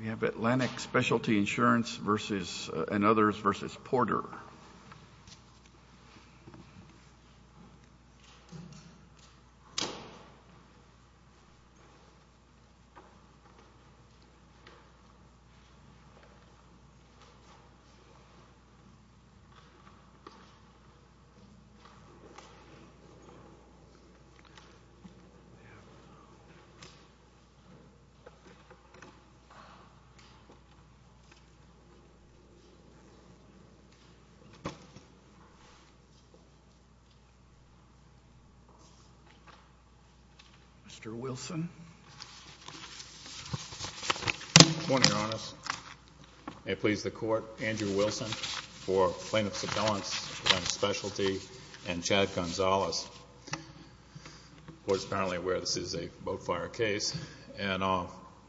We have Atlantic Specialty Insurance v. and others v. Porter. Mr. Wilson. Good morning, Your Honors. May it please the Court, Andrew Wilson for Plaintiff's Advance on Specialty and Chad Gonzalez. The Court is apparently aware this is a boat fire case. And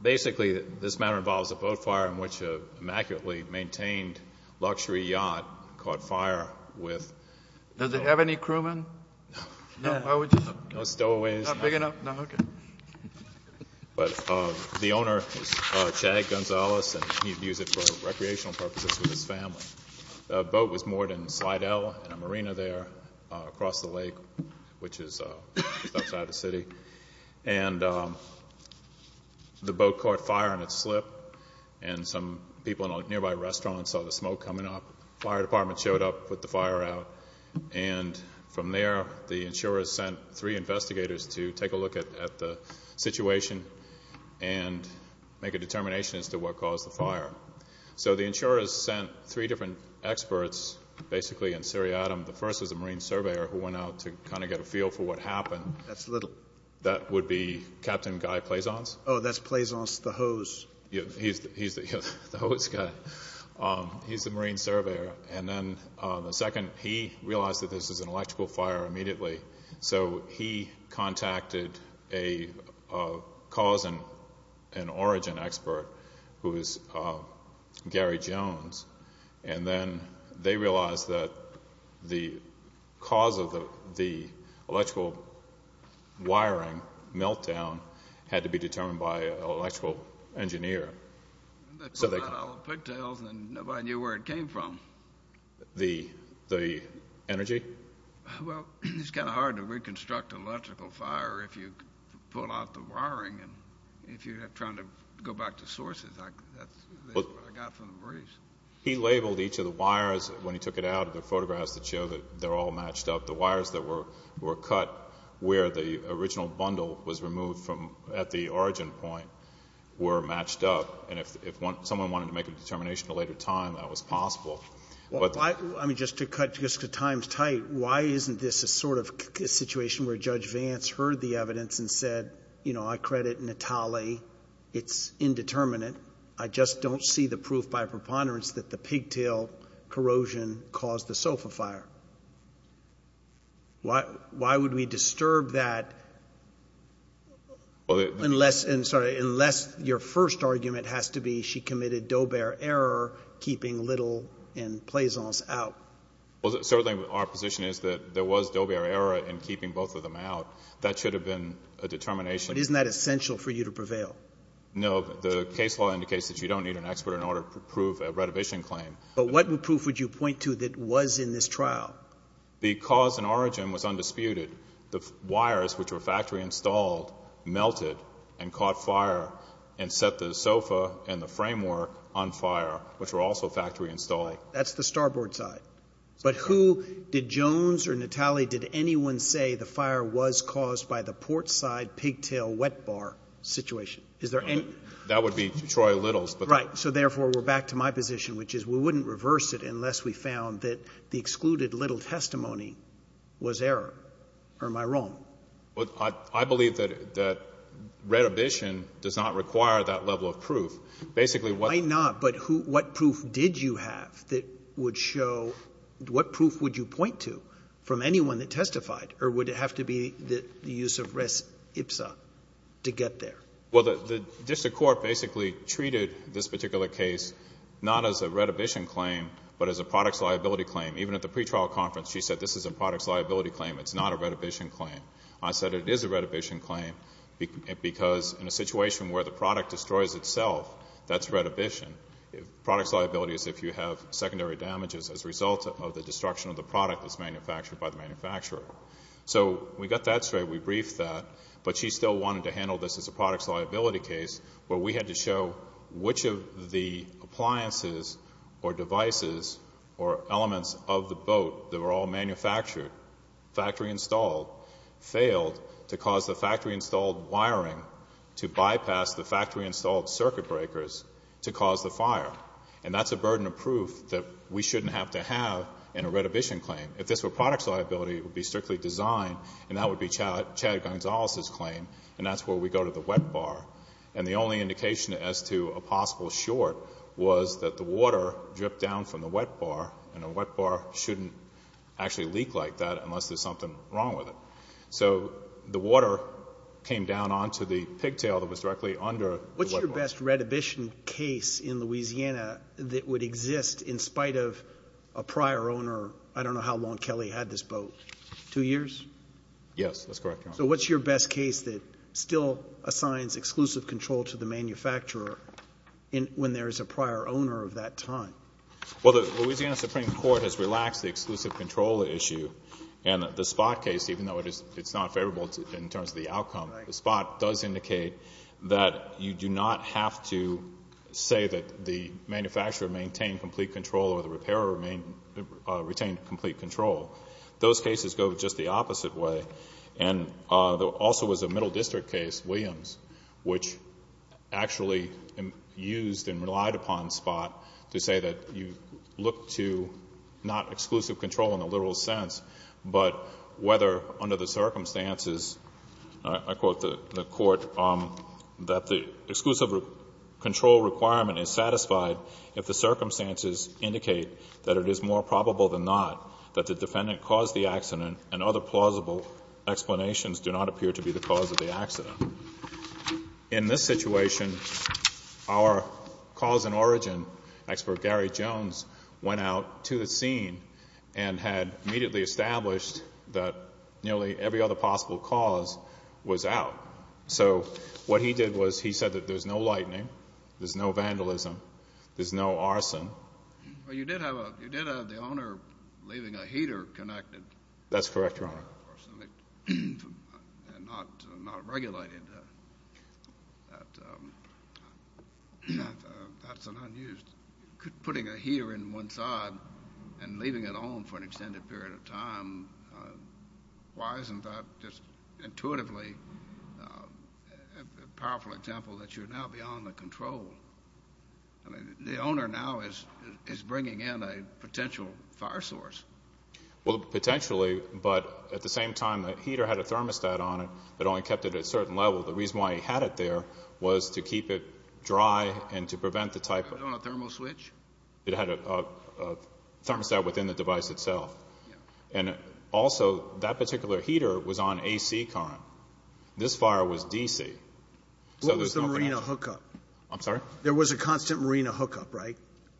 basically this matter involves a boat fire in which an immaculately maintained luxury yacht caught fire with... Does it have any crewmen? No. Why would you? No stowaways. Not big enough? No. Okay. But the owner was Chad Gonzalez, and he'd use it for recreational purposes with his family. The boat was moored in Slidell in a marina there across the lake, which is just outside the city. And the boat caught fire on its slip, and some people in a nearby restaurant saw the smoke coming up. The fire department showed up, put the fire out, and from there the insurers sent three investigators to take a look at the situation and make a determination as to what caused the fire. So the insurers sent three different experts, basically in seriatim. The first was a marine surveyor who went out to kind of get a feel for what happened. That's Little. That would be Captain Guy Plaisance. Oh, that's Plaisance the hose. He's the hose guy. He's the marine surveyor. And then the second, he realized that this was an electrical fire immediately, so he contacted a cause and origin expert who was Gary Jones, and then they realized that the cause of the electrical wiring meltdown had to be determined by an electrical engineer. So they called out all the pigtails, and nobody knew where it came from. The energy? Well, it's kind of hard to reconstruct an electrical fire if you pull out the wiring, and if you're trying to go back to sources, that's what I got from the marines. He labeled each of the wires when he took it out of the photographs that show that they're all matched up. The wires that were cut where the original bundle was removed at the origin point were matched up, and if someone wanted to make a determination at a later time, that was possible. Well, I mean, just to cut times tight, why isn't this a sort of situation where Judge Vance heard the evidence and said, you know, I credit Natale, it's indeterminate, I just don't see the proof by preponderance that the pigtail corrosion caused the sofa fire? Why would we disturb that unless your first argument has to be she committed do-bear error, keeping Little and Plaisance out? Well, certainly our position is that there was do-bear error in keeping both of them out. That should have been a determination. But isn't that essential for you to prevail? No. The case law indicates that you don't need an expert in order to prove a retribution claim. But what proof would you point to that was in this trial? Because an origin was undisputed, the wires, which were factory installed, melted and caught fire and set the sofa and the framework on fire, which were also factory installed. That's the starboard side. But who did Jones or Natale, did anyone say the fire was caused by the portside pigtail wet bar situation? Is there any? That would be Troy Little's. Right. So, therefore, we're back to my position, which is we wouldn't reverse it unless we found that the excluded Little testimony was error. Or am I wrong? Well, I believe that retribution does not require that level of proof. Basically, what — Why not? But what proof did you have that would show — what proof would you point to from anyone that testified? Or would it have to be the use of res ipsa to get there? Well, the district court basically treated this particular case not as a retribution claim, but as a products liability claim. Even at the pretrial conference, she said this is a products liability claim. It's not a retribution claim. I said it is a retribution claim because in a situation where the product destroys itself, that's retribution. Products liability is if you have secondary damages as a result of the destruction of the product that's manufactured by the manufacturer. So we got that straight. We briefed that. But she still wanted to handle this as a products liability case, where we had to show which of the appliances or devices or elements of the boat that were all manufactured, factory-installed, failed to cause the factory-installed wiring to bypass the factory-installed circuit breakers to cause the fire. And that's a burden of proof that we shouldn't have to have in a retribution claim. If this were products liability, it would be strictly design, and that would be Chad Gonzalez's claim, and that's where we go to the wet bar. And the only indication as to a possible short was that the water dripped down from the wet bar, and a wet bar shouldn't actually leak like that unless there's something wrong with it. So the water came down onto the pigtail that was directly under the wet bar. What's your best retribution case in Louisiana that would exist in spite of a prior owner? I don't know how long Kelly had this boat. Two years? Yes, that's correct, Your Honor. So what's your best case that still assigns exclusive control to the manufacturer when there is a prior owner of that time? Well, the Louisiana Supreme Court has relaxed the exclusive control issue, and the spot case, even though it's not favorable in terms of the outcome, the spot does indicate that you do not have to say that the manufacturer maintained complete control or the repairer retained complete control. Those cases go just the opposite way. And there also was a middle district case, Williams, which actually used and relied upon spot to say that you look to not exclusive control in the literal sense, but whether under the circumstances, I quote the Court, that the exclusive control requirement is satisfied if the circumstances indicate that it is more probable than not that the defendant caused the accident and other plausible explanations do not appear to be the cause of the accident. In this situation, our cause and origin expert, Gary Jones, went out to the scene and had immediately established that nearly every other possible cause was out. So what he did was he said that there's no lightning, there's no vandalism, there's no arson. Well, you did have the owner leaving a heater connected. That's correct, Your Honor. And not regulated. That's an unused. Putting a heater in one side and leaving it on for an extended period of time, why isn't that just intuitively a powerful example that you're now beyond the control? I mean, the owner now is bringing in a potential fire source. Well, potentially, but at the same time, the heater had a thermostat on it that only kept it at a certain level. The reason why he had it there was to keep it dry and to prevent the type of. It was on a thermal switch? It had a thermostat within the device itself. And also, that particular heater was on AC current. This fire was DC. What was the marina hookup? I'm sorry? There was a constant marina hookup, right?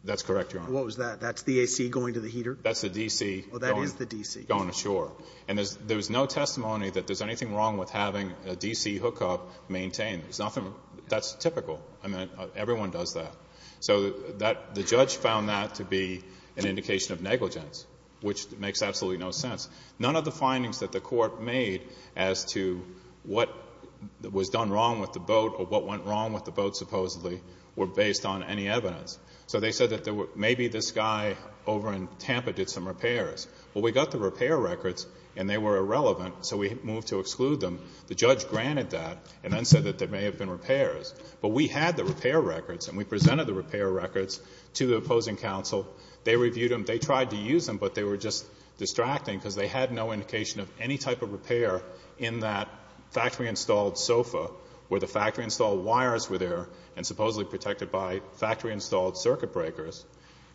That's correct, Your Honor. What was that? That's the AC going to the heater? That's the DC. Oh, that is the DC. Going ashore. And there's no testimony that there's anything wrong with having a DC hookup maintained. There's nothing. That's typical. I mean, everyone does that. So the judge found that to be an indication of negligence, which makes absolutely no sense. None of the findings that the court made as to what was done wrong with the boat or what went wrong with the boat supposedly were based on any evidence. So they said that maybe this guy over in Tampa did some repairs. Well, we got the repair records, and they were irrelevant, so we moved to exclude them. The judge granted that and then said that there may have been repairs. But we had the repair records, and we presented the repair records to the opposing counsel. They reviewed them. They tried to use them, but they were just distracting because they had no indication of any type of repair in that factory-installed sofa where the factory-installed wires were there and supposedly protected by factory-installed circuit breakers.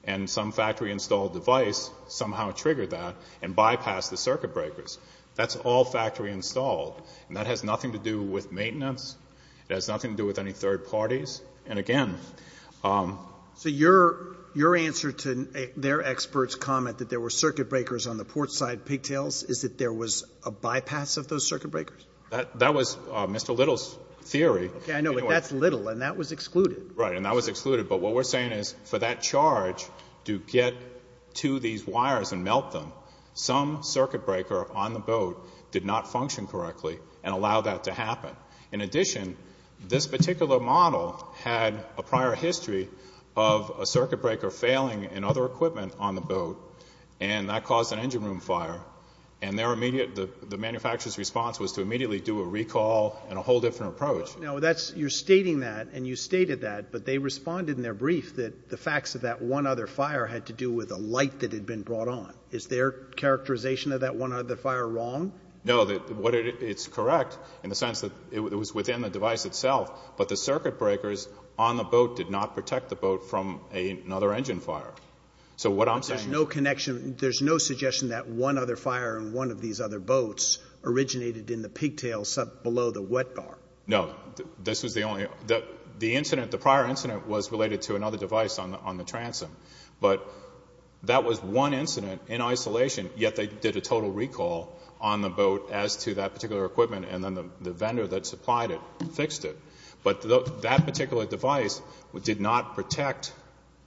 And some factory-installed device somehow triggered that and bypassed the circuit breakers. That's all factory-installed, and that has nothing to do with maintenance. It has nothing to do with any third parties. And again ---- Roberts. So your answer to their expert's comment that there were circuit breakers on the portside pigtails is that there was a bypass of those circuit breakers? That was Mr. Little's theory. Okay. I know, but that's Little, and that was excluded. Right. And that was excluded. But what we're saying is for that charge to get to these wires and melt them, some circuit breaker on the boat did not function correctly and allow that to happen. In addition, this particular model had a prior history of a circuit breaker failing in other equipment on the boat, and that caused an engine room fire. And the manufacturer's response was to immediately do a recall and a whole different approach. No, you're stating that, and you stated that, but they responded in their brief that the facts of that one other fire had to do with a light that had been brought on. Is their characterization of that one other fire wrong? No. It's correct in the sense that it was within the device itself, but the circuit breakers on the boat did not protect the boat from another engine fire. So what I'm saying is no connection. There's no suggestion that one other fire in one of these other boats originated in the pigtails below the wet bar. No. This was the only one. The prior incident was related to another device on the transom, but that was one incident in isolation, yet they did a total recall on the boat as to that particular equipment, and then the vendor that supplied it fixed it. But that particular device did not protect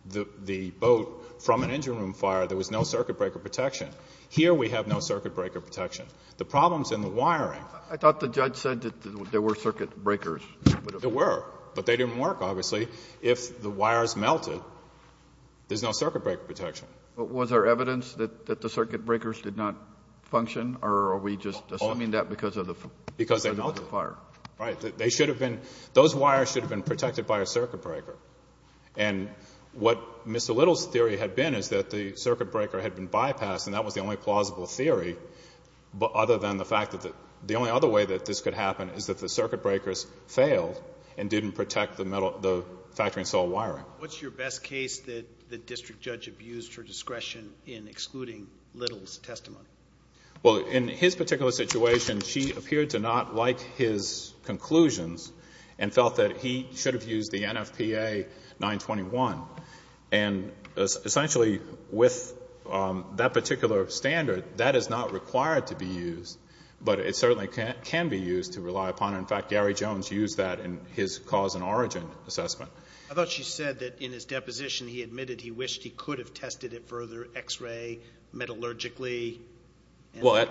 the boat from an engine room fire. There was no circuit breaker protection. Here we have no circuit breaker protection. The problems in the wiring. I thought the judge said that there were circuit breakers. There were, but they didn't work, obviously. If the wires melted, there's no circuit breaker protection. But was there evidence that the circuit breakers did not function, or are we just assuming that because of the fire? Right. Those wires should have been protected by a circuit breaker. And what Mr. Little's theory had been is that the circuit breaker had been bypassed, and that was the only plausible theory, other than the fact that the only other way that this could happen is that the circuit breakers failed and didn't protect the factory and soil wiring. What's your best case that the district judge abused her discretion in excluding Little's testimony? Well, in his particular situation, she appeared to not like his conclusions and felt that he should have used the NFPA 921. And essentially, with that particular standard, that is not required to be used, but it certainly can be used to rely upon it. In fact, Gary Jones used that in his cause and origin assessment. I thought she said that in his deposition he admitted he wished he could have tested it further, X-ray, metallurgically. Well,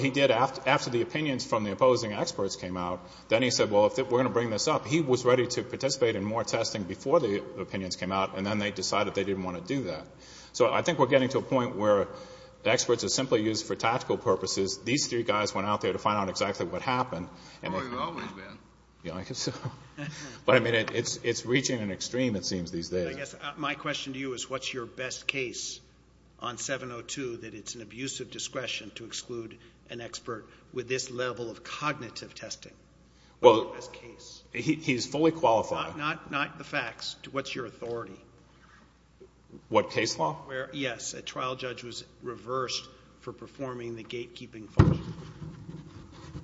he did after the opinions from the opposing experts came out. Then he said, well, we're going to bring this up. He was ready to participate in more testing before the opinions came out, and then they decided they didn't want to do that. So I think we're getting to a point where the experts are simply used for tactical purposes. These three guys went out there to find out exactly what happened. Oh, you've always been. But, I mean, it's reaching an extreme, it seems, these days. I guess my question to you is what's your best case on 702 that it's an abusive discretion to exclude an expert with this level of cognitive testing? Well, he's fully qualified. Not the facts. What's your authority? What case law? Where, yes, a trial judge was reversed for performing the gatekeeping function.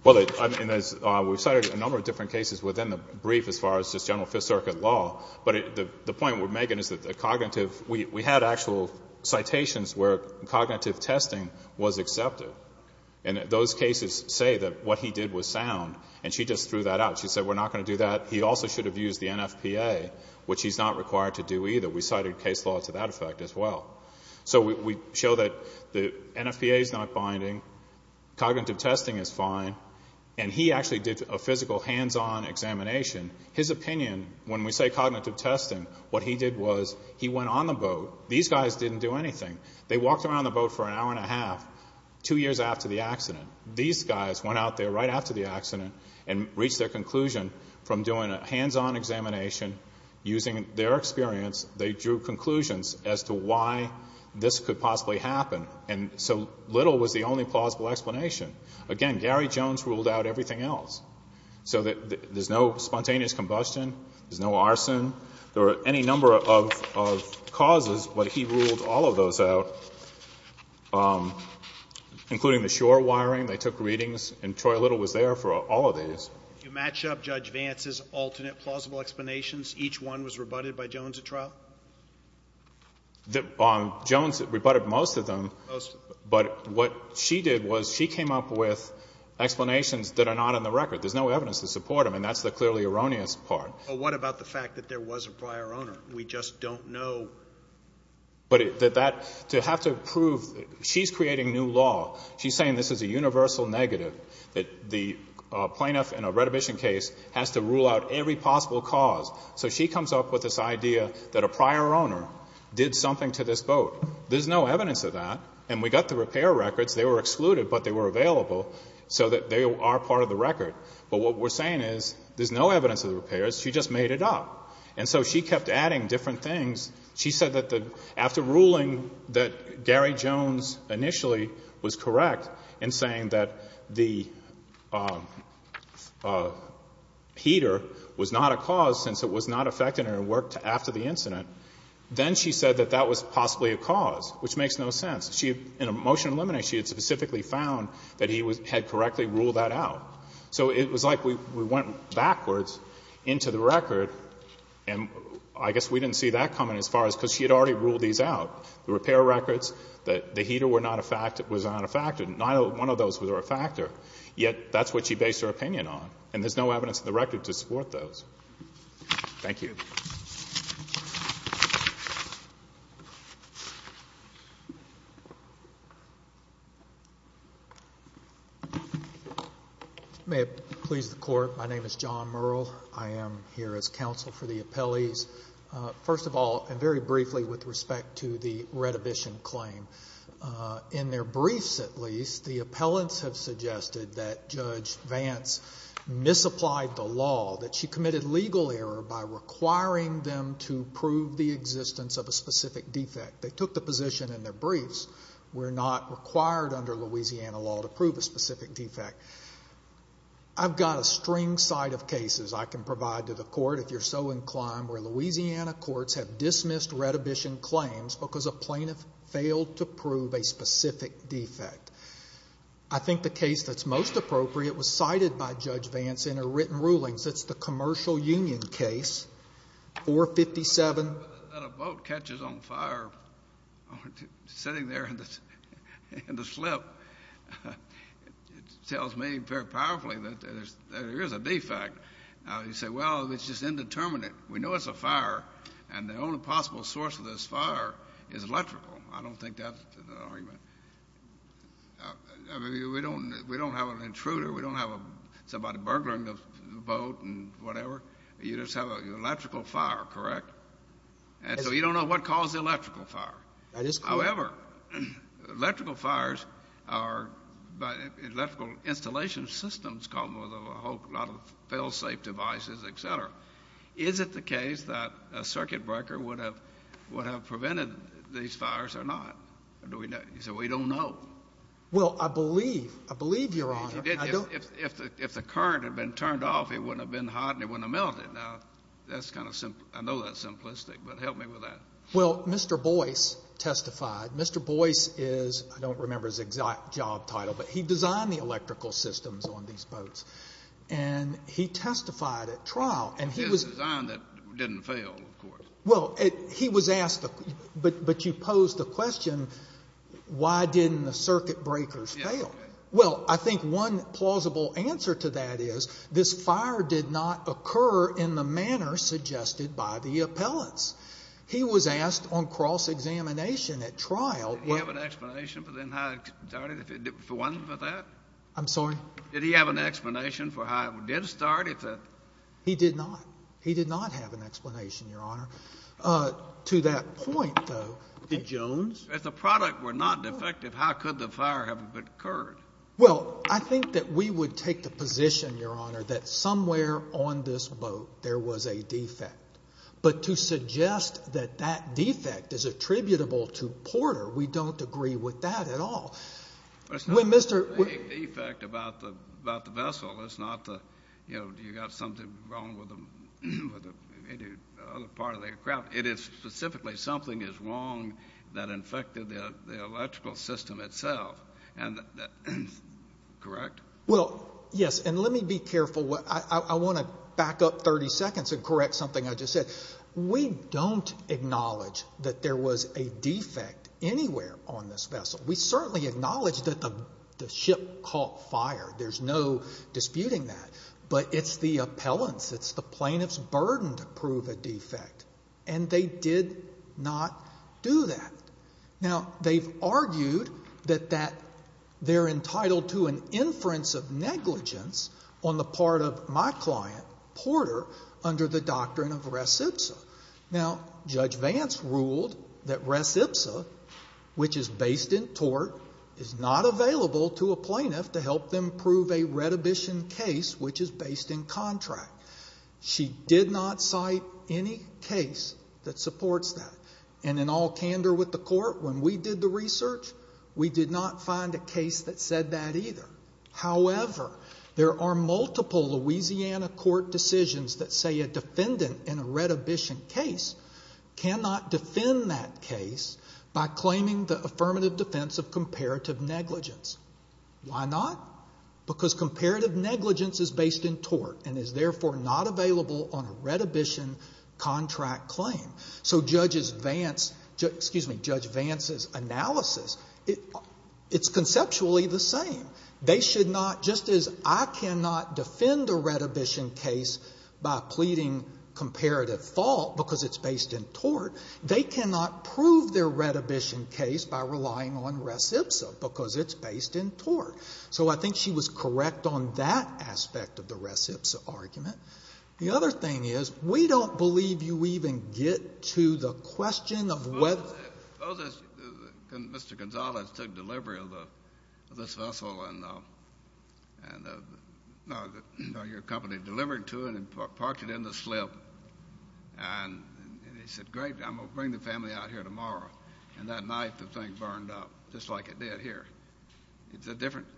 Well, we've cited a number of different cases within the brief as far as just general Fifth Circuit law, but the point with Megan is that the cognitive we had actual citations where cognitive testing was accepted. And those cases say that what he did was sound, and she just threw that out. She said, we're not going to do that. He also should have used the NFPA, which he's not required to do either. We cited case law to that effect as well. So we show that the NFPA is not binding. Cognitive testing is fine. And he actually did a physical hands-on examination. His opinion, when we say cognitive testing, what he did was he went on the boat. These guys didn't do anything. They walked around the boat for an hour and a half, two years after the accident. These guys went out there right after the accident and reached their conclusion from doing a hands-on examination. Using their experience, they drew conclusions as to why this could possibly happen. And so little was the only plausible explanation. Again, Gary Jones ruled out everything else. So there's no spontaneous combustion. There's no arson. There are any number of causes, but he ruled all of those out, including the shore wiring. They took readings, and Troy Little was there for all of these. If you match up Judge Vance's alternate plausible explanations, each one was rebutted by Jones at trial? Jones rebutted most of them. Most of them. But what she did was she came up with explanations that are not on the record. There's no evidence to support them, and that's the clearly erroneous part. Well, what about the fact that there was a prior owner? We just don't know. But that, to have to prove, she's creating new law. She's saying this is a universal negative, that the plaintiff in a retribution case has to rule out every possible cause. So she comes up with this idea that a prior owner did something to this boat. There's no evidence of that, and we got the repair records. They were excluded, but they were available so that they are part of the record. But what we're saying is there's no evidence of the repairs. She just made it up. And so she kept adding different things. She said that after ruling that Gary Jones initially was correct in saying that the heater was not a cause since it was not affected and it worked after the incident, then she said that that was possibly a cause, which makes no sense. In a motion to eliminate, she had specifically found that he had correctly ruled that out. So it was like we went backwards into the record, and I guess we didn't see that coming as far as because she had already ruled these out, the repair records, that the heater was not a factor. Not one of those was a factor, yet that's what she based her opinion on, and there's no evidence in the record to support those. Thank you. May it please the Court, my name is John Murrell. I am here as counsel for the appellees. First of all, and very briefly with respect to the retribution claim, in their briefs at least, the appellants have suggested that Judge Vance misapplied the law, that she committed legal error by requiring them to prove the existence of a specific defect. They took the position in their briefs, we're not required under Louisiana law to prove a specific defect. I've got a string side of cases I can provide to the Court, if you're so inclined, where Louisiana courts have dismissed retribution claims because a plaintiff failed to prove a specific defect. I think the case that's most appropriate was cited by Judge Vance in her written rulings. It's the Commercial Union case, 457. That a boat catches on fire sitting there in the slip tells me very powerfully that there is a defect. You say, well, it's just indeterminate. We know it's a fire, and the only possible source of this fire is electrical. I don't think that's an argument. I mean, we don't have an intruder. We don't have somebody burglaring the boat and whatever. You just have an electrical fire, correct? And so you don't know what caused the electrical fire. That is correct. However, electrical fires are by electrical installation systems called a whole lot of fail-safe devices, et cetera. Is it the case that a circuit breaker would have prevented these fires or not? You say, well, you don't know. Well, I believe. I believe, Your Honor. If the current had been turned off, it wouldn't have been hot and it wouldn't have melted. Now, that's kind of simple. I know that's simplistic, but help me with that. Well, Mr. Boyce testified. Mr. Boyce is – I don't remember his exact job title, but he designed the electrical systems on these boats, and he testified at trial. It was a design that didn't fail, of course. Well, he was asked, but you posed the question, why didn't the circuit breakers fail? Well, I think one plausible answer to that is this fire did not occur in the manner suggested by the appellants. He was asked on cross-examination at trial. Did he have an explanation for then how it started, for one, for that? I'm sorry? Did he have an explanation for how it did start? He did not. He did not have an explanation, Your Honor. To that point, though – Did Jones? If the product were not defective, how could the fire have occurred? Well, I think that we would take the position, Your Honor, that somewhere on this boat there was a defect. But to suggest that that defect is attributable to Porter, we don't agree with that at all. It's not a defect about the vessel. It's not that you've got something wrong with the other part of the craft. It is specifically something is wrong that infected the electrical system itself, correct? Well, yes, and let me be careful. I want to back up 30 seconds and correct something I just said. We don't acknowledge that there was a defect anywhere on this vessel. We certainly acknowledge that the ship caught fire. There's no disputing that. But it's the appellants, it's the plaintiff's burden to prove a defect, and they did not do that. Now, they've argued that they're entitled to an inference of negligence on the part of my client, Porter, under the doctrine of res ipsa. Now, Judge Vance ruled that res ipsa, which is based in tort, is not available to a plaintiff to help them prove a redhibition case which is based in contract. She did not cite any case that supports that. And in all candor with the court, when we did the research, we did not find a case that said that either. However, there are multiple Louisiana court decisions that say a defendant in a redhibition case cannot defend that case by claiming the affirmative defense of comparative negligence. Why not? Because comparative negligence is based in tort and is therefore not available on a redhibition contract claim. So Judge Vance's analysis, it's conceptually the same. They should not, just as I cannot defend a redhibition case by pleading comparative fault because it's based in tort, they cannot prove their redhibition case by relying on res ipsa because it's based in tort. So I think she was correct on that aspect of the res ipsa argument. The other thing is we don't believe you even get to the question of whether. Suppose Mr. Gonzalez took delivery of this vessel and your company delivered it to him and parked it in the slip and he said, great, I'm going to bring the family out here tomorrow. And that night the thing burned up just like it did here. It's a different.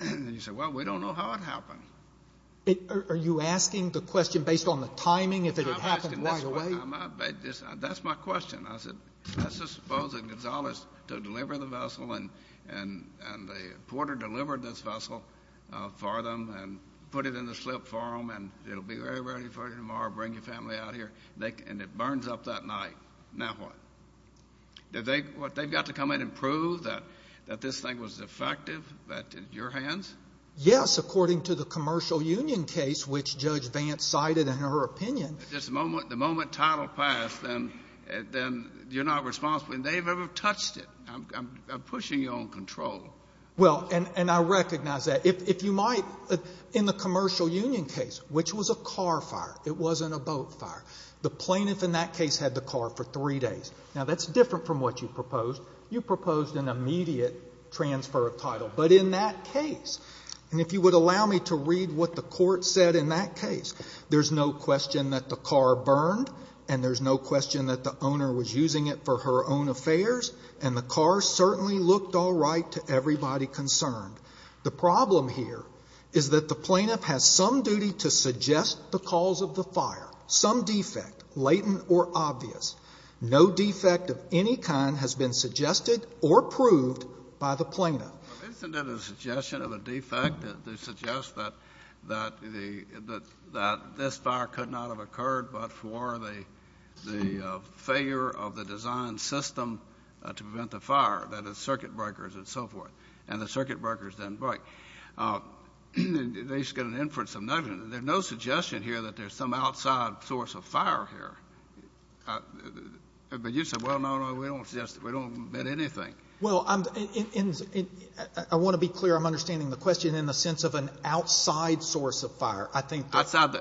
And you say, well, we don't know how it happened. Are you asking the question based on the timing, if it had happened right away? That's my question. I said, let's just suppose that Gonzalez took delivery of the vessel and the porter delivered this vessel for them and put it in the slip for them and it will be ready for you tomorrow, bring your family out here, and it burns up that night. Now what? They've got to come in and prove that this thing was defective at your hands? Yes, according to the commercial union case, which Judge Vance cited in her opinion. The moment title passed, then you're not responsible. They've never touched it. I'm pushing you on control. Well, and I recognize that. If you might, in the commercial union case, which was a car fire, it wasn't a boat fire, the plaintiff in that case had the car for three days. Now that's different from what you proposed. You proposed an immediate transfer of title. But in that case, and if you would allow me to read what the court said in that case, there's no question that the car burned and there's no question that the owner was using it for her own affairs and the car certainly looked all right to everybody concerned. The problem here is that the plaintiff has some duty to suggest the cause of the fire, some defect, latent or obvious. No defect of any kind has been suggested or proved by the plaintiff. Isn't it a suggestion of a defect that suggests that this fire could not have occurred but for the failure of the design system to prevent the fire, that is, circuit breakers and so forth, and the circuit breakers didn't break. They should get an inference of nothing. There's no suggestion here that there's some outside source of fire here. But you said, well, no, no, we don't suggest it. We don't admit anything. Well, I want to be clear. I'm understanding the question in the sense of an outside source of fire. I think that's... Outside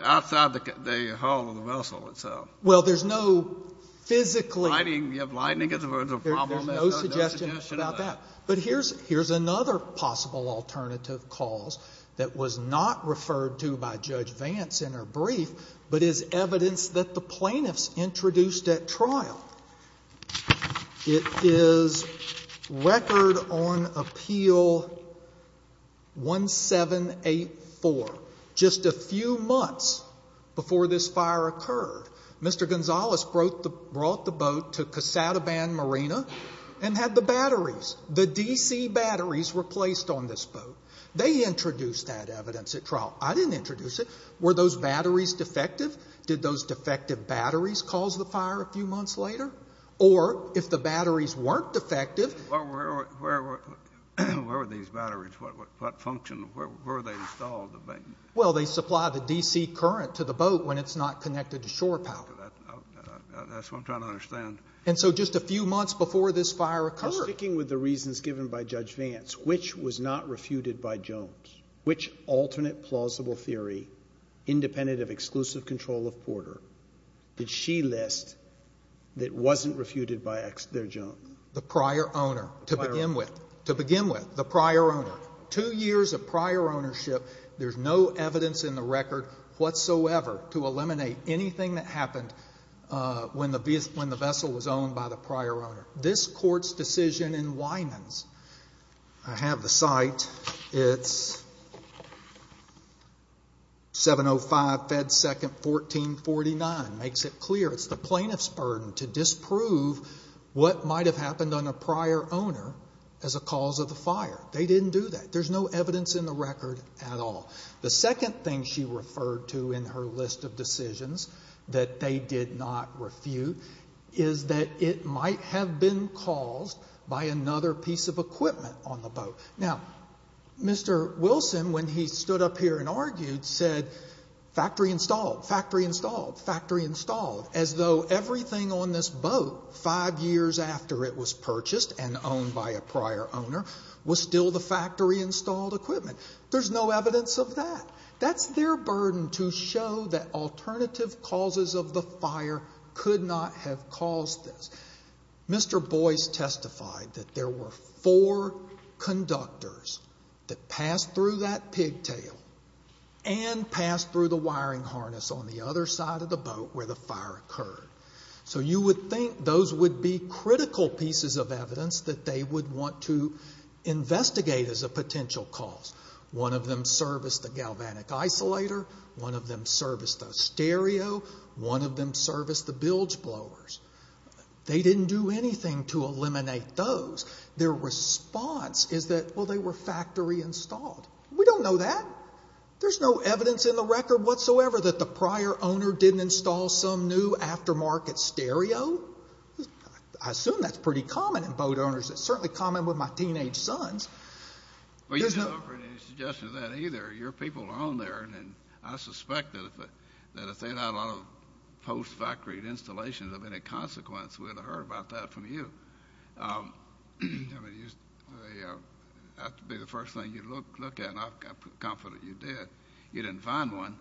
the hull of the vessel itself. Well, there's no physically... Lightning, you have lightning as a problem. There's no suggestion about that. But here's another possible alternative cause that was not referred to by Judge Vance in her brief but is evidence that the plaintiffs introduced at trial. It is Record on Appeal 1784. Just a few months before this fire occurred, Mr. Gonzales brought the boat to Cassataban Marina and had the batteries, the DC batteries, replaced on this boat. They introduced that evidence at trial. I didn't introduce it. Were those batteries defective? Did those defective batteries cause the fire a few months later? Or if the batteries weren't defective... Where were these batteries? What function? Where were they installed? Well, they supply the DC current to the boat when it's not connected to shore power. That's what I'm trying to understand. And so just a few months before this fire occurred... I'm sticking with the reasons given by Judge Vance. Which was not refuted by Jones? Which alternate plausible theory, independent of exclusive control of Porter, did she list that wasn't refuted by their judge? The prior owner, to begin with. To begin with, the prior owner. Two years of prior ownership, there's no evidence in the record whatsoever to eliminate anything that happened when the vessel was owned by the prior owner. This court's decision in Winans... I have the site. It's 705 Fed 2nd, 1449. Makes it clear. It's the plaintiff's burden to disprove what might have happened on a prior owner as a cause of the fire. They didn't do that. There's no evidence in the record at all. The second thing she referred to in her list of decisions that they did not refute is that it might have been caused by another piece of equipment on the boat. Now, Mr. Wilson, when he stood up here and argued, said, factory installed, factory installed, factory installed. As though everything on this boat, five years after it was purchased and owned by a prior owner, was still the factory installed equipment. There's no evidence of that. That's their burden to show that alternative causes of the fire could not have caused this. Mr. Boyce testified that there were four conductors that passed through that pigtail and passed through the wiring harness on the other side of the boat where the fire occurred. So you would think those would be critical pieces of evidence that they would want to investigate as a potential cause. One of them serviced the galvanic isolator. One of them serviced the stereo. One of them serviced the bilge blowers. They didn't do anything to eliminate those. Their response is that, well, they were factory installed. We don't know that. There's no evidence in the record whatsoever that the prior owner didn't install some new aftermarket stereo. I assume that's pretty common in boat owners. It's certainly common with my teenage sons. Well, you're not offering any suggestion of that either. Your people are on there, and I suspect that if they had a lot of post-factory installations of any consequence, we would have heard about that from you. I mean, that would be the first thing you'd look at, and I'm confident you did. You didn't find one,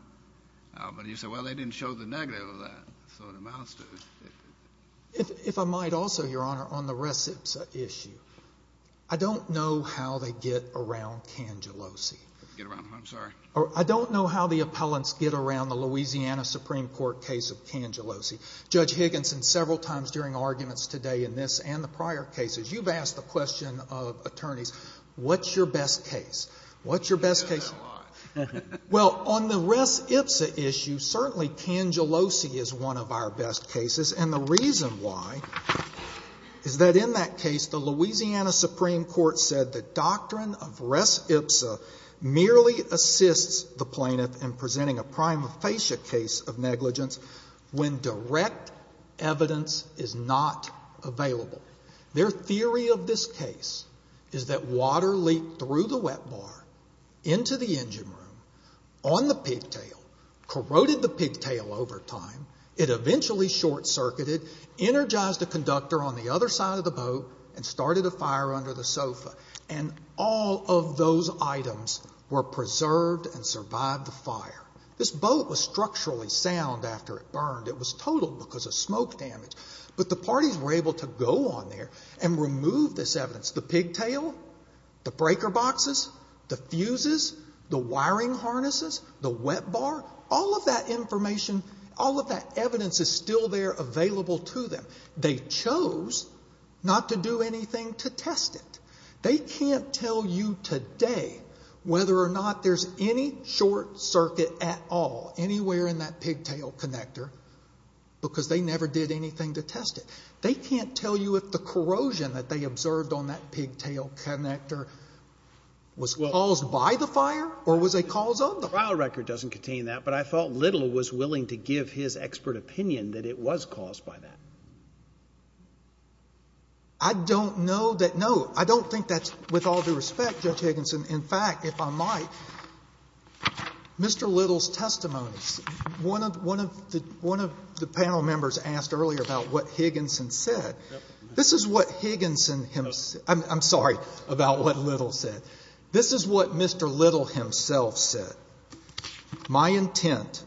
but you said, well, they didn't show the negative of that. So it amounts to it. If I might also, Your Honor, on the res ipsa issue, I don't know how they get around Cangellosi. I don't know how the appellants get around the Louisiana Supreme Court case of Cangellosi. Judge Higginson several times during arguments today in this and the prior cases, you've asked the question of attorneys, what's your best case? What's your best case? Well, on the res ipsa issue, certainly Cangellosi is one of our best cases, and the reason why is that in that case, the Louisiana Supreme Court said the doctrine of res ipsa merely assists the plaintiff in presenting a prima facie case of negligence when direct evidence is not available. Their theory of this case is that water leaked through the wet bar into the engine room on the pigtail, corroded the pigtail over time. It eventually short-circuited, energized the conductor on the other side of the boat, and started a fire under the sofa. And all of those items were preserved and survived the fire. This boat was structurally sound after it burned. It was totaled because of smoke damage. But the parties were able to go on there and remove this evidence, the pigtail, the breaker boxes, the fuses, the wiring harnesses, the wet bar, all of that information, all of that evidence is still there available to them. They chose not to do anything to test it. They can't tell you today whether or not there's any short circuit at all, anywhere in that pigtail connector, because they never did anything to test it. They can't tell you if the corrosion that they observed on that pigtail connector was caused by the fire or was a cause of the fire. The trial record doesn't contain that, but I thought Little was willing to give his expert opinion that it was caused by that. I don't know that. No, I don't think that's with all due respect, Judge Higginson. In fact, if I might, Mr. Little's testimony, one of the panel members asked earlier about what Higginson said. This is what Higginson himself said. I'm sorry about what Little said. This is what Mr. Little himself said. My intent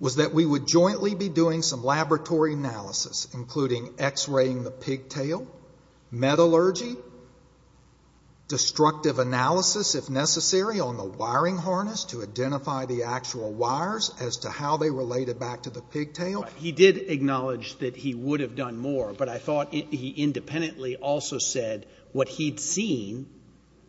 was that we would jointly be doing some laboratory analysis, including X-raying the pigtail, metallurgy, destructive analysis if necessary on the wiring harness to identify the actual wires as to how they related back to the pigtail. He did acknowledge that he would have done more, but I thought he independently also said what he'd seen,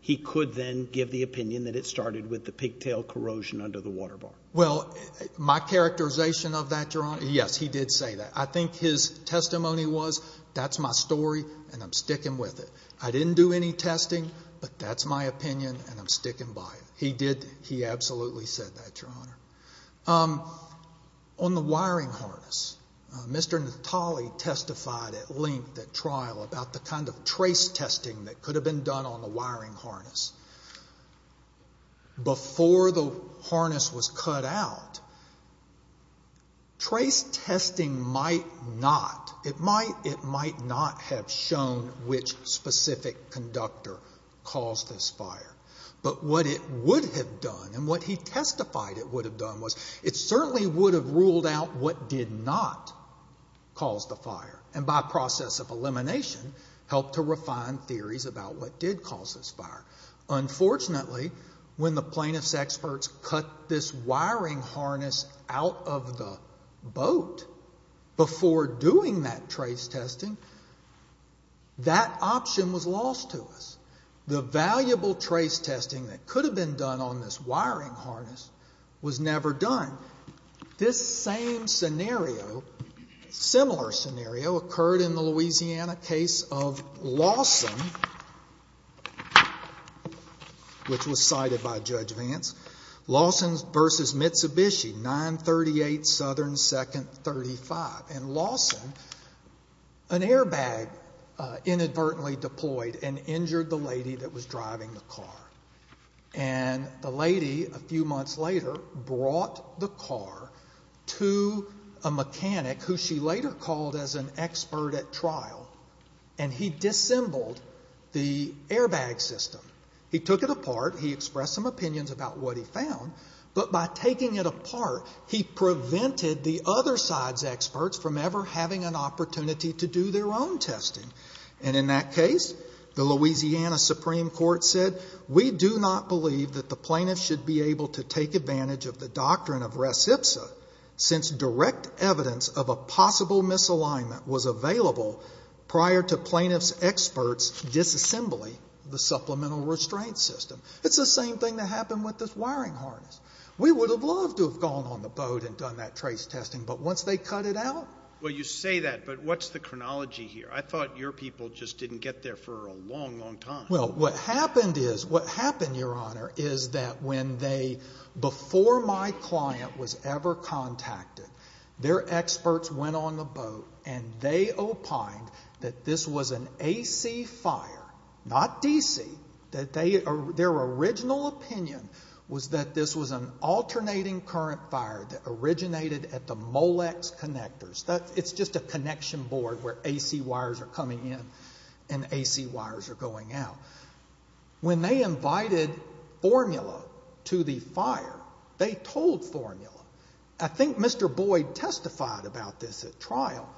he could then give the opinion that it started with the pigtail corrosion under the water bar. Well, my characterization of that, Your Honor, yes, he did say that. I think his testimony was, that's my story and I'm sticking with it. I didn't do any testing, but that's my opinion and I'm sticking by it. He absolutely said that, Your Honor. On the wiring harness, Mr. Natale testified at length at trial about the kind of trace testing that could have been done on the wiring harness. Before the harness was cut out, trace testing might not, it might not have shown which specific conductor caused this fire, but what it would have done and what he testified it would have done was, it certainly would have ruled out what did not cause the fire and by process of elimination helped to refine theories about what did cause this fire. Unfortunately, when the plaintiff's experts cut this wiring harness out of the boat before doing that trace testing, that option was lost to us. The valuable trace testing that could have been done on this wiring harness was never done. This same scenario, similar scenario, occurred in the Louisiana case of Lawson, which was cited by Judge Vance. Lawson versus Mitsubishi, 9-38 Southern 2nd 35. In Lawson, an airbag inadvertently deployed and injured the lady that was driving the car. And the lady, a few months later, brought the car to a mechanic, who she later called as an expert at trial, and he dissembled the airbag system. He took it apart, he expressed some opinions about what he found, but by taking it apart, he prevented the other side's experts from ever having an opportunity to do their own testing. And in that case, the Louisiana Supreme Court said, we do not believe that the plaintiff should be able to take advantage of the doctrine of res ipsa since direct evidence of a possible misalignment was available prior to plaintiff's experts' disassembly of the supplemental restraint system. It's the same thing that happened with this wiring harness. We would have loved to have gone on the boat and done that trace testing, but once they cut it out? Well, you say that, but what's the chronology here? I thought your people just didn't get there for a long, long time. Well, what happened is, what happened, Your Honor, is that when they, before my client was ever contacted, their experts went on the boat and they opined that this was an AC fire, not DC, that their original opinion was that this was an alternating current fire that originated at the Molex connectors. It's just a connection board where AC wires are coming in and AC wires are going out. When they invited formula to the fire, they told formula. I think Mr. Boyd testified about this at trial.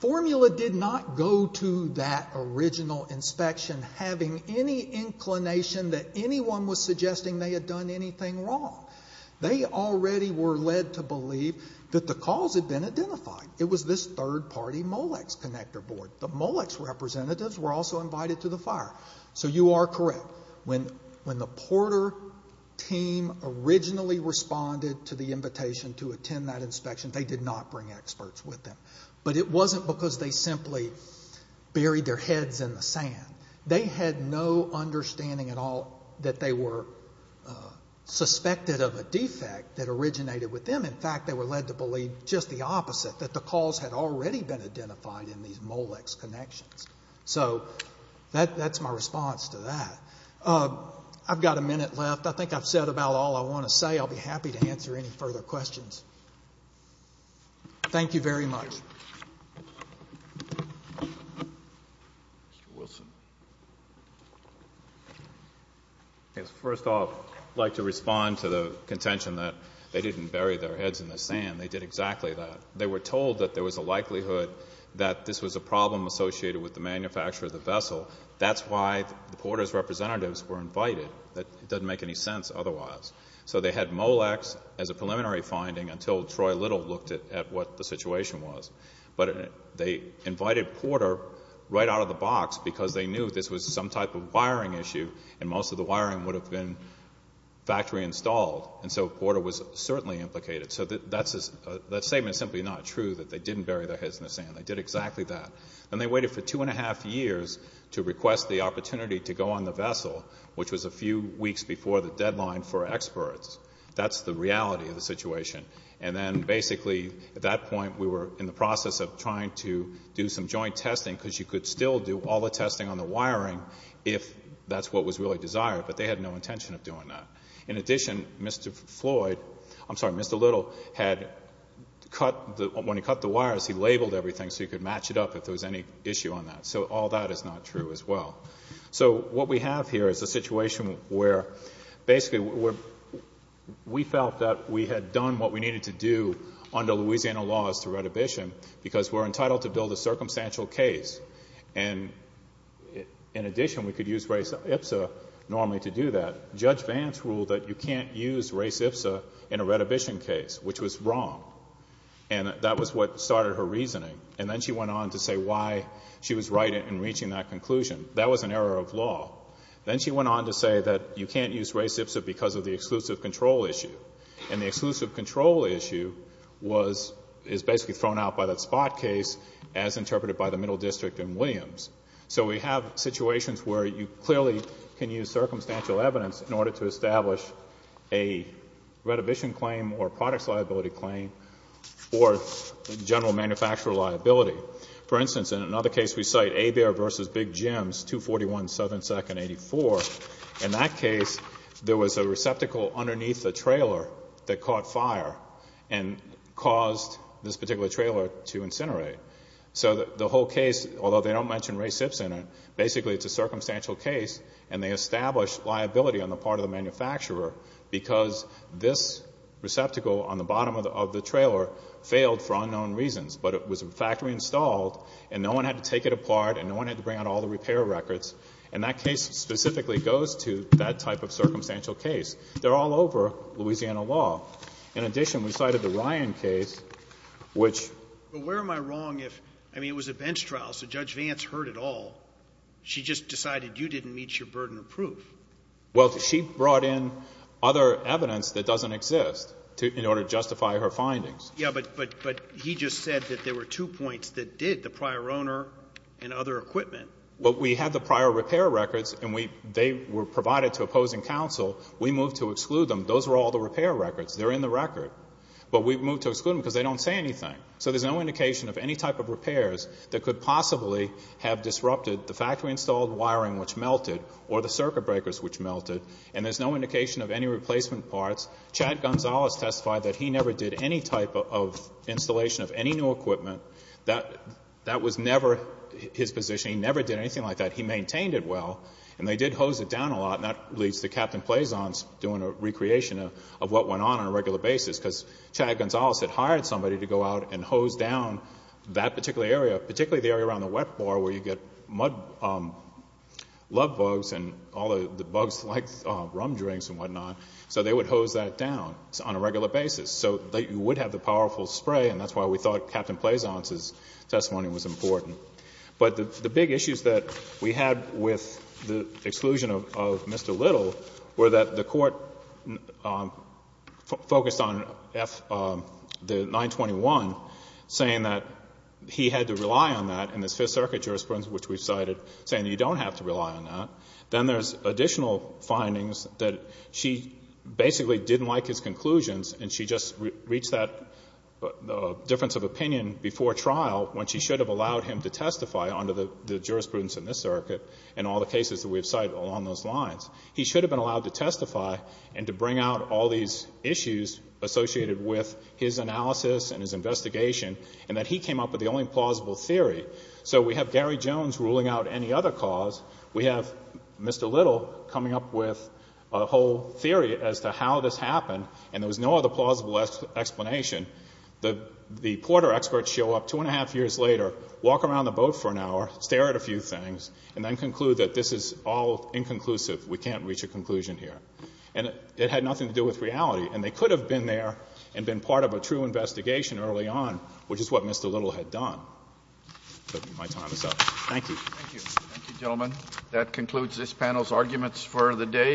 Formula did not go to that original inspection having any inclination that anyone was suggesting they had done anything wrong. They already were led to believe that the cause had been identified. It was this third-party Molex connector board. The Molex representatives were also invited to the fire. So you are correct. When the Porter team originally responded to the invitation to attend that inspection, they did not bring experts with them. But it wasn't because they simply buried their heads in the sand. They had no understanding at all that they were suspected of a defect that originated with them. In fact, they were led to believe just the opposite, that the cause had already been identified in these Molex connections. So that's my response to that. I've got a minute left. I think I've said about all I want to say. I'll be happy to answer any further questions. Thank you very much. First off, I'd like to respond to the contention that they didn't bury their heads in the sand. They did exactly that. They were told that there was a likelihood that this was a problem associated with the manufacture of the vessel. That's why the Porter's representatives were invited. It doesn't make any sense otherwise. So they had Molex as a preliminary finding until Troy Little looked at what the situation was. But they invited Porter right out of the box because they knew this was some type of wiring issue and most of the wiring would have been factory installed. And so Porter was certainly implicated. So that statement is simply not true that they didn't bury their heads in the sand. They did exactly that. And they waited for two and a half years to request the opportunity to go on the vessel, which was a few weeks before the deadline for experts. That's the reality of the situation. And then basically at that point we were in the process of trying to do some joint testing because you could still do all the testing on the wiring if that's what was really desired. But they had no intention of doing that. In addition, Mr. Little had cut the wires. He labeled everything so he could match it up if there was any issue on that. So all that is not true as well. So what we have here is a situation where basically we felt that we had done what we needed to do under Louisiana laws to Red Abyssinian because we're entitled to build a circumstantial case. And, in addition, we could use IPSA normally to do that. Judge Vance ruled that you can't use race IPSA in a Red Abyssinian case, which was wrong. And that was what started her reasoning. And then she went on to say why she was right in reaching that conclusion. That was an error of law. Then she went on to say that you can't use race IPSA because of the exclusive control issue. And the exclusive control issue is basically thrown out by the spot case as interpreted by the Middle District and Williams. So we have situations where you clearly can use circumstantial evidence in order to establish a Red Abyssinian claim or a products liability claim or general manufacturer liability. For instance, in another case, we cite Abare v. Big Jims, 241 Southern 2nd, 84. In that case, there was a receptacle underneath the trailer that caught fire and caused this particular trailer to incinerate. So the whole case, although they don't mention race IPSA in it, basically it's a circumstantial case and they established liability on the part of the manufacturer because this receptacle on the bottom of the trailer failed for unknown reasons. But it was in fact reinstalled and no one had to take it apart and no one had to bring out all the repair records. And that case specifically goes to that type of circumstantial case. They're all over Louisiana law. In addition, we cited the Ryan case, which... I mean, it was a bench trial, so Judge Vance heard it all. She just decided you didn't meet your burden of proof. Well, she brought in other evidence that doesn't exist in order to justify her findings. Yeah, but he just said that there were two points that did, the prior owner and other equipment. Well, we had the prior repair records and they were provided to opposing counsel. We moved to exclude them. Those were all the repair records. They're in the record. But we moved to exclude them because they don't say anything. So there's no indication of any type of repairs that could possibly have disrupted the factory-installed wiring, which melted, or the circuit breakers, which melted. And there's no indication of any replacement parts. Chad Gonzalez testified that he never did any type of installation of any new equipment. That was never his position. He never did anything like that. He maintained it well. And they did hose it down a lot, and that leads to Captain Plazon's doing a recreation of what went on on a regular basis because Chad Gonzalez had hired somebody to go out and hose down that particular area, particularly the area around the wet bar where you get mud, mud bugs and all the bugs like rum drinks and whatnot. So they would hose that down on a regular basis. So you would have the powerful spray, and that's why we thought Captain Plazon's testimony was important. But the big issues that we had with the exclusion of Mr. Little were that the Court focused on the 921, saying that he had to rely on that in this Fifth Circuit jurisprudence, which we've cited, saying you don't have to rely on that. Then there's additional findings that she basically didn't like his conclusions, and she just reached that difference of opinion before trial when she should have allowed him to testify under the jurisprudence in this circuit and all the cases that we've cited along those lines. He should have been allowed to testify and to bring out all these issues associated with his analysis and his investigation, and that he came up with the only plausible theory. So we have Gary Jones ruling out any other cause. We have Mr. Little coming up with a whole theory as to how this happened, and there was no other plausible explanation. The Porter experts show up two and a half years later, walk around the boat for an hour, stare at a few things, and then conclude that this is all inconclusive, we can't reach a conclusion here. And it had nothing to do with reality, and they could have been there and been part of a true investigation early on, which is what Mr. Little had done. My time is up. Thank you. Thank you, gentlemen. That concludes this panel's arguments for the day.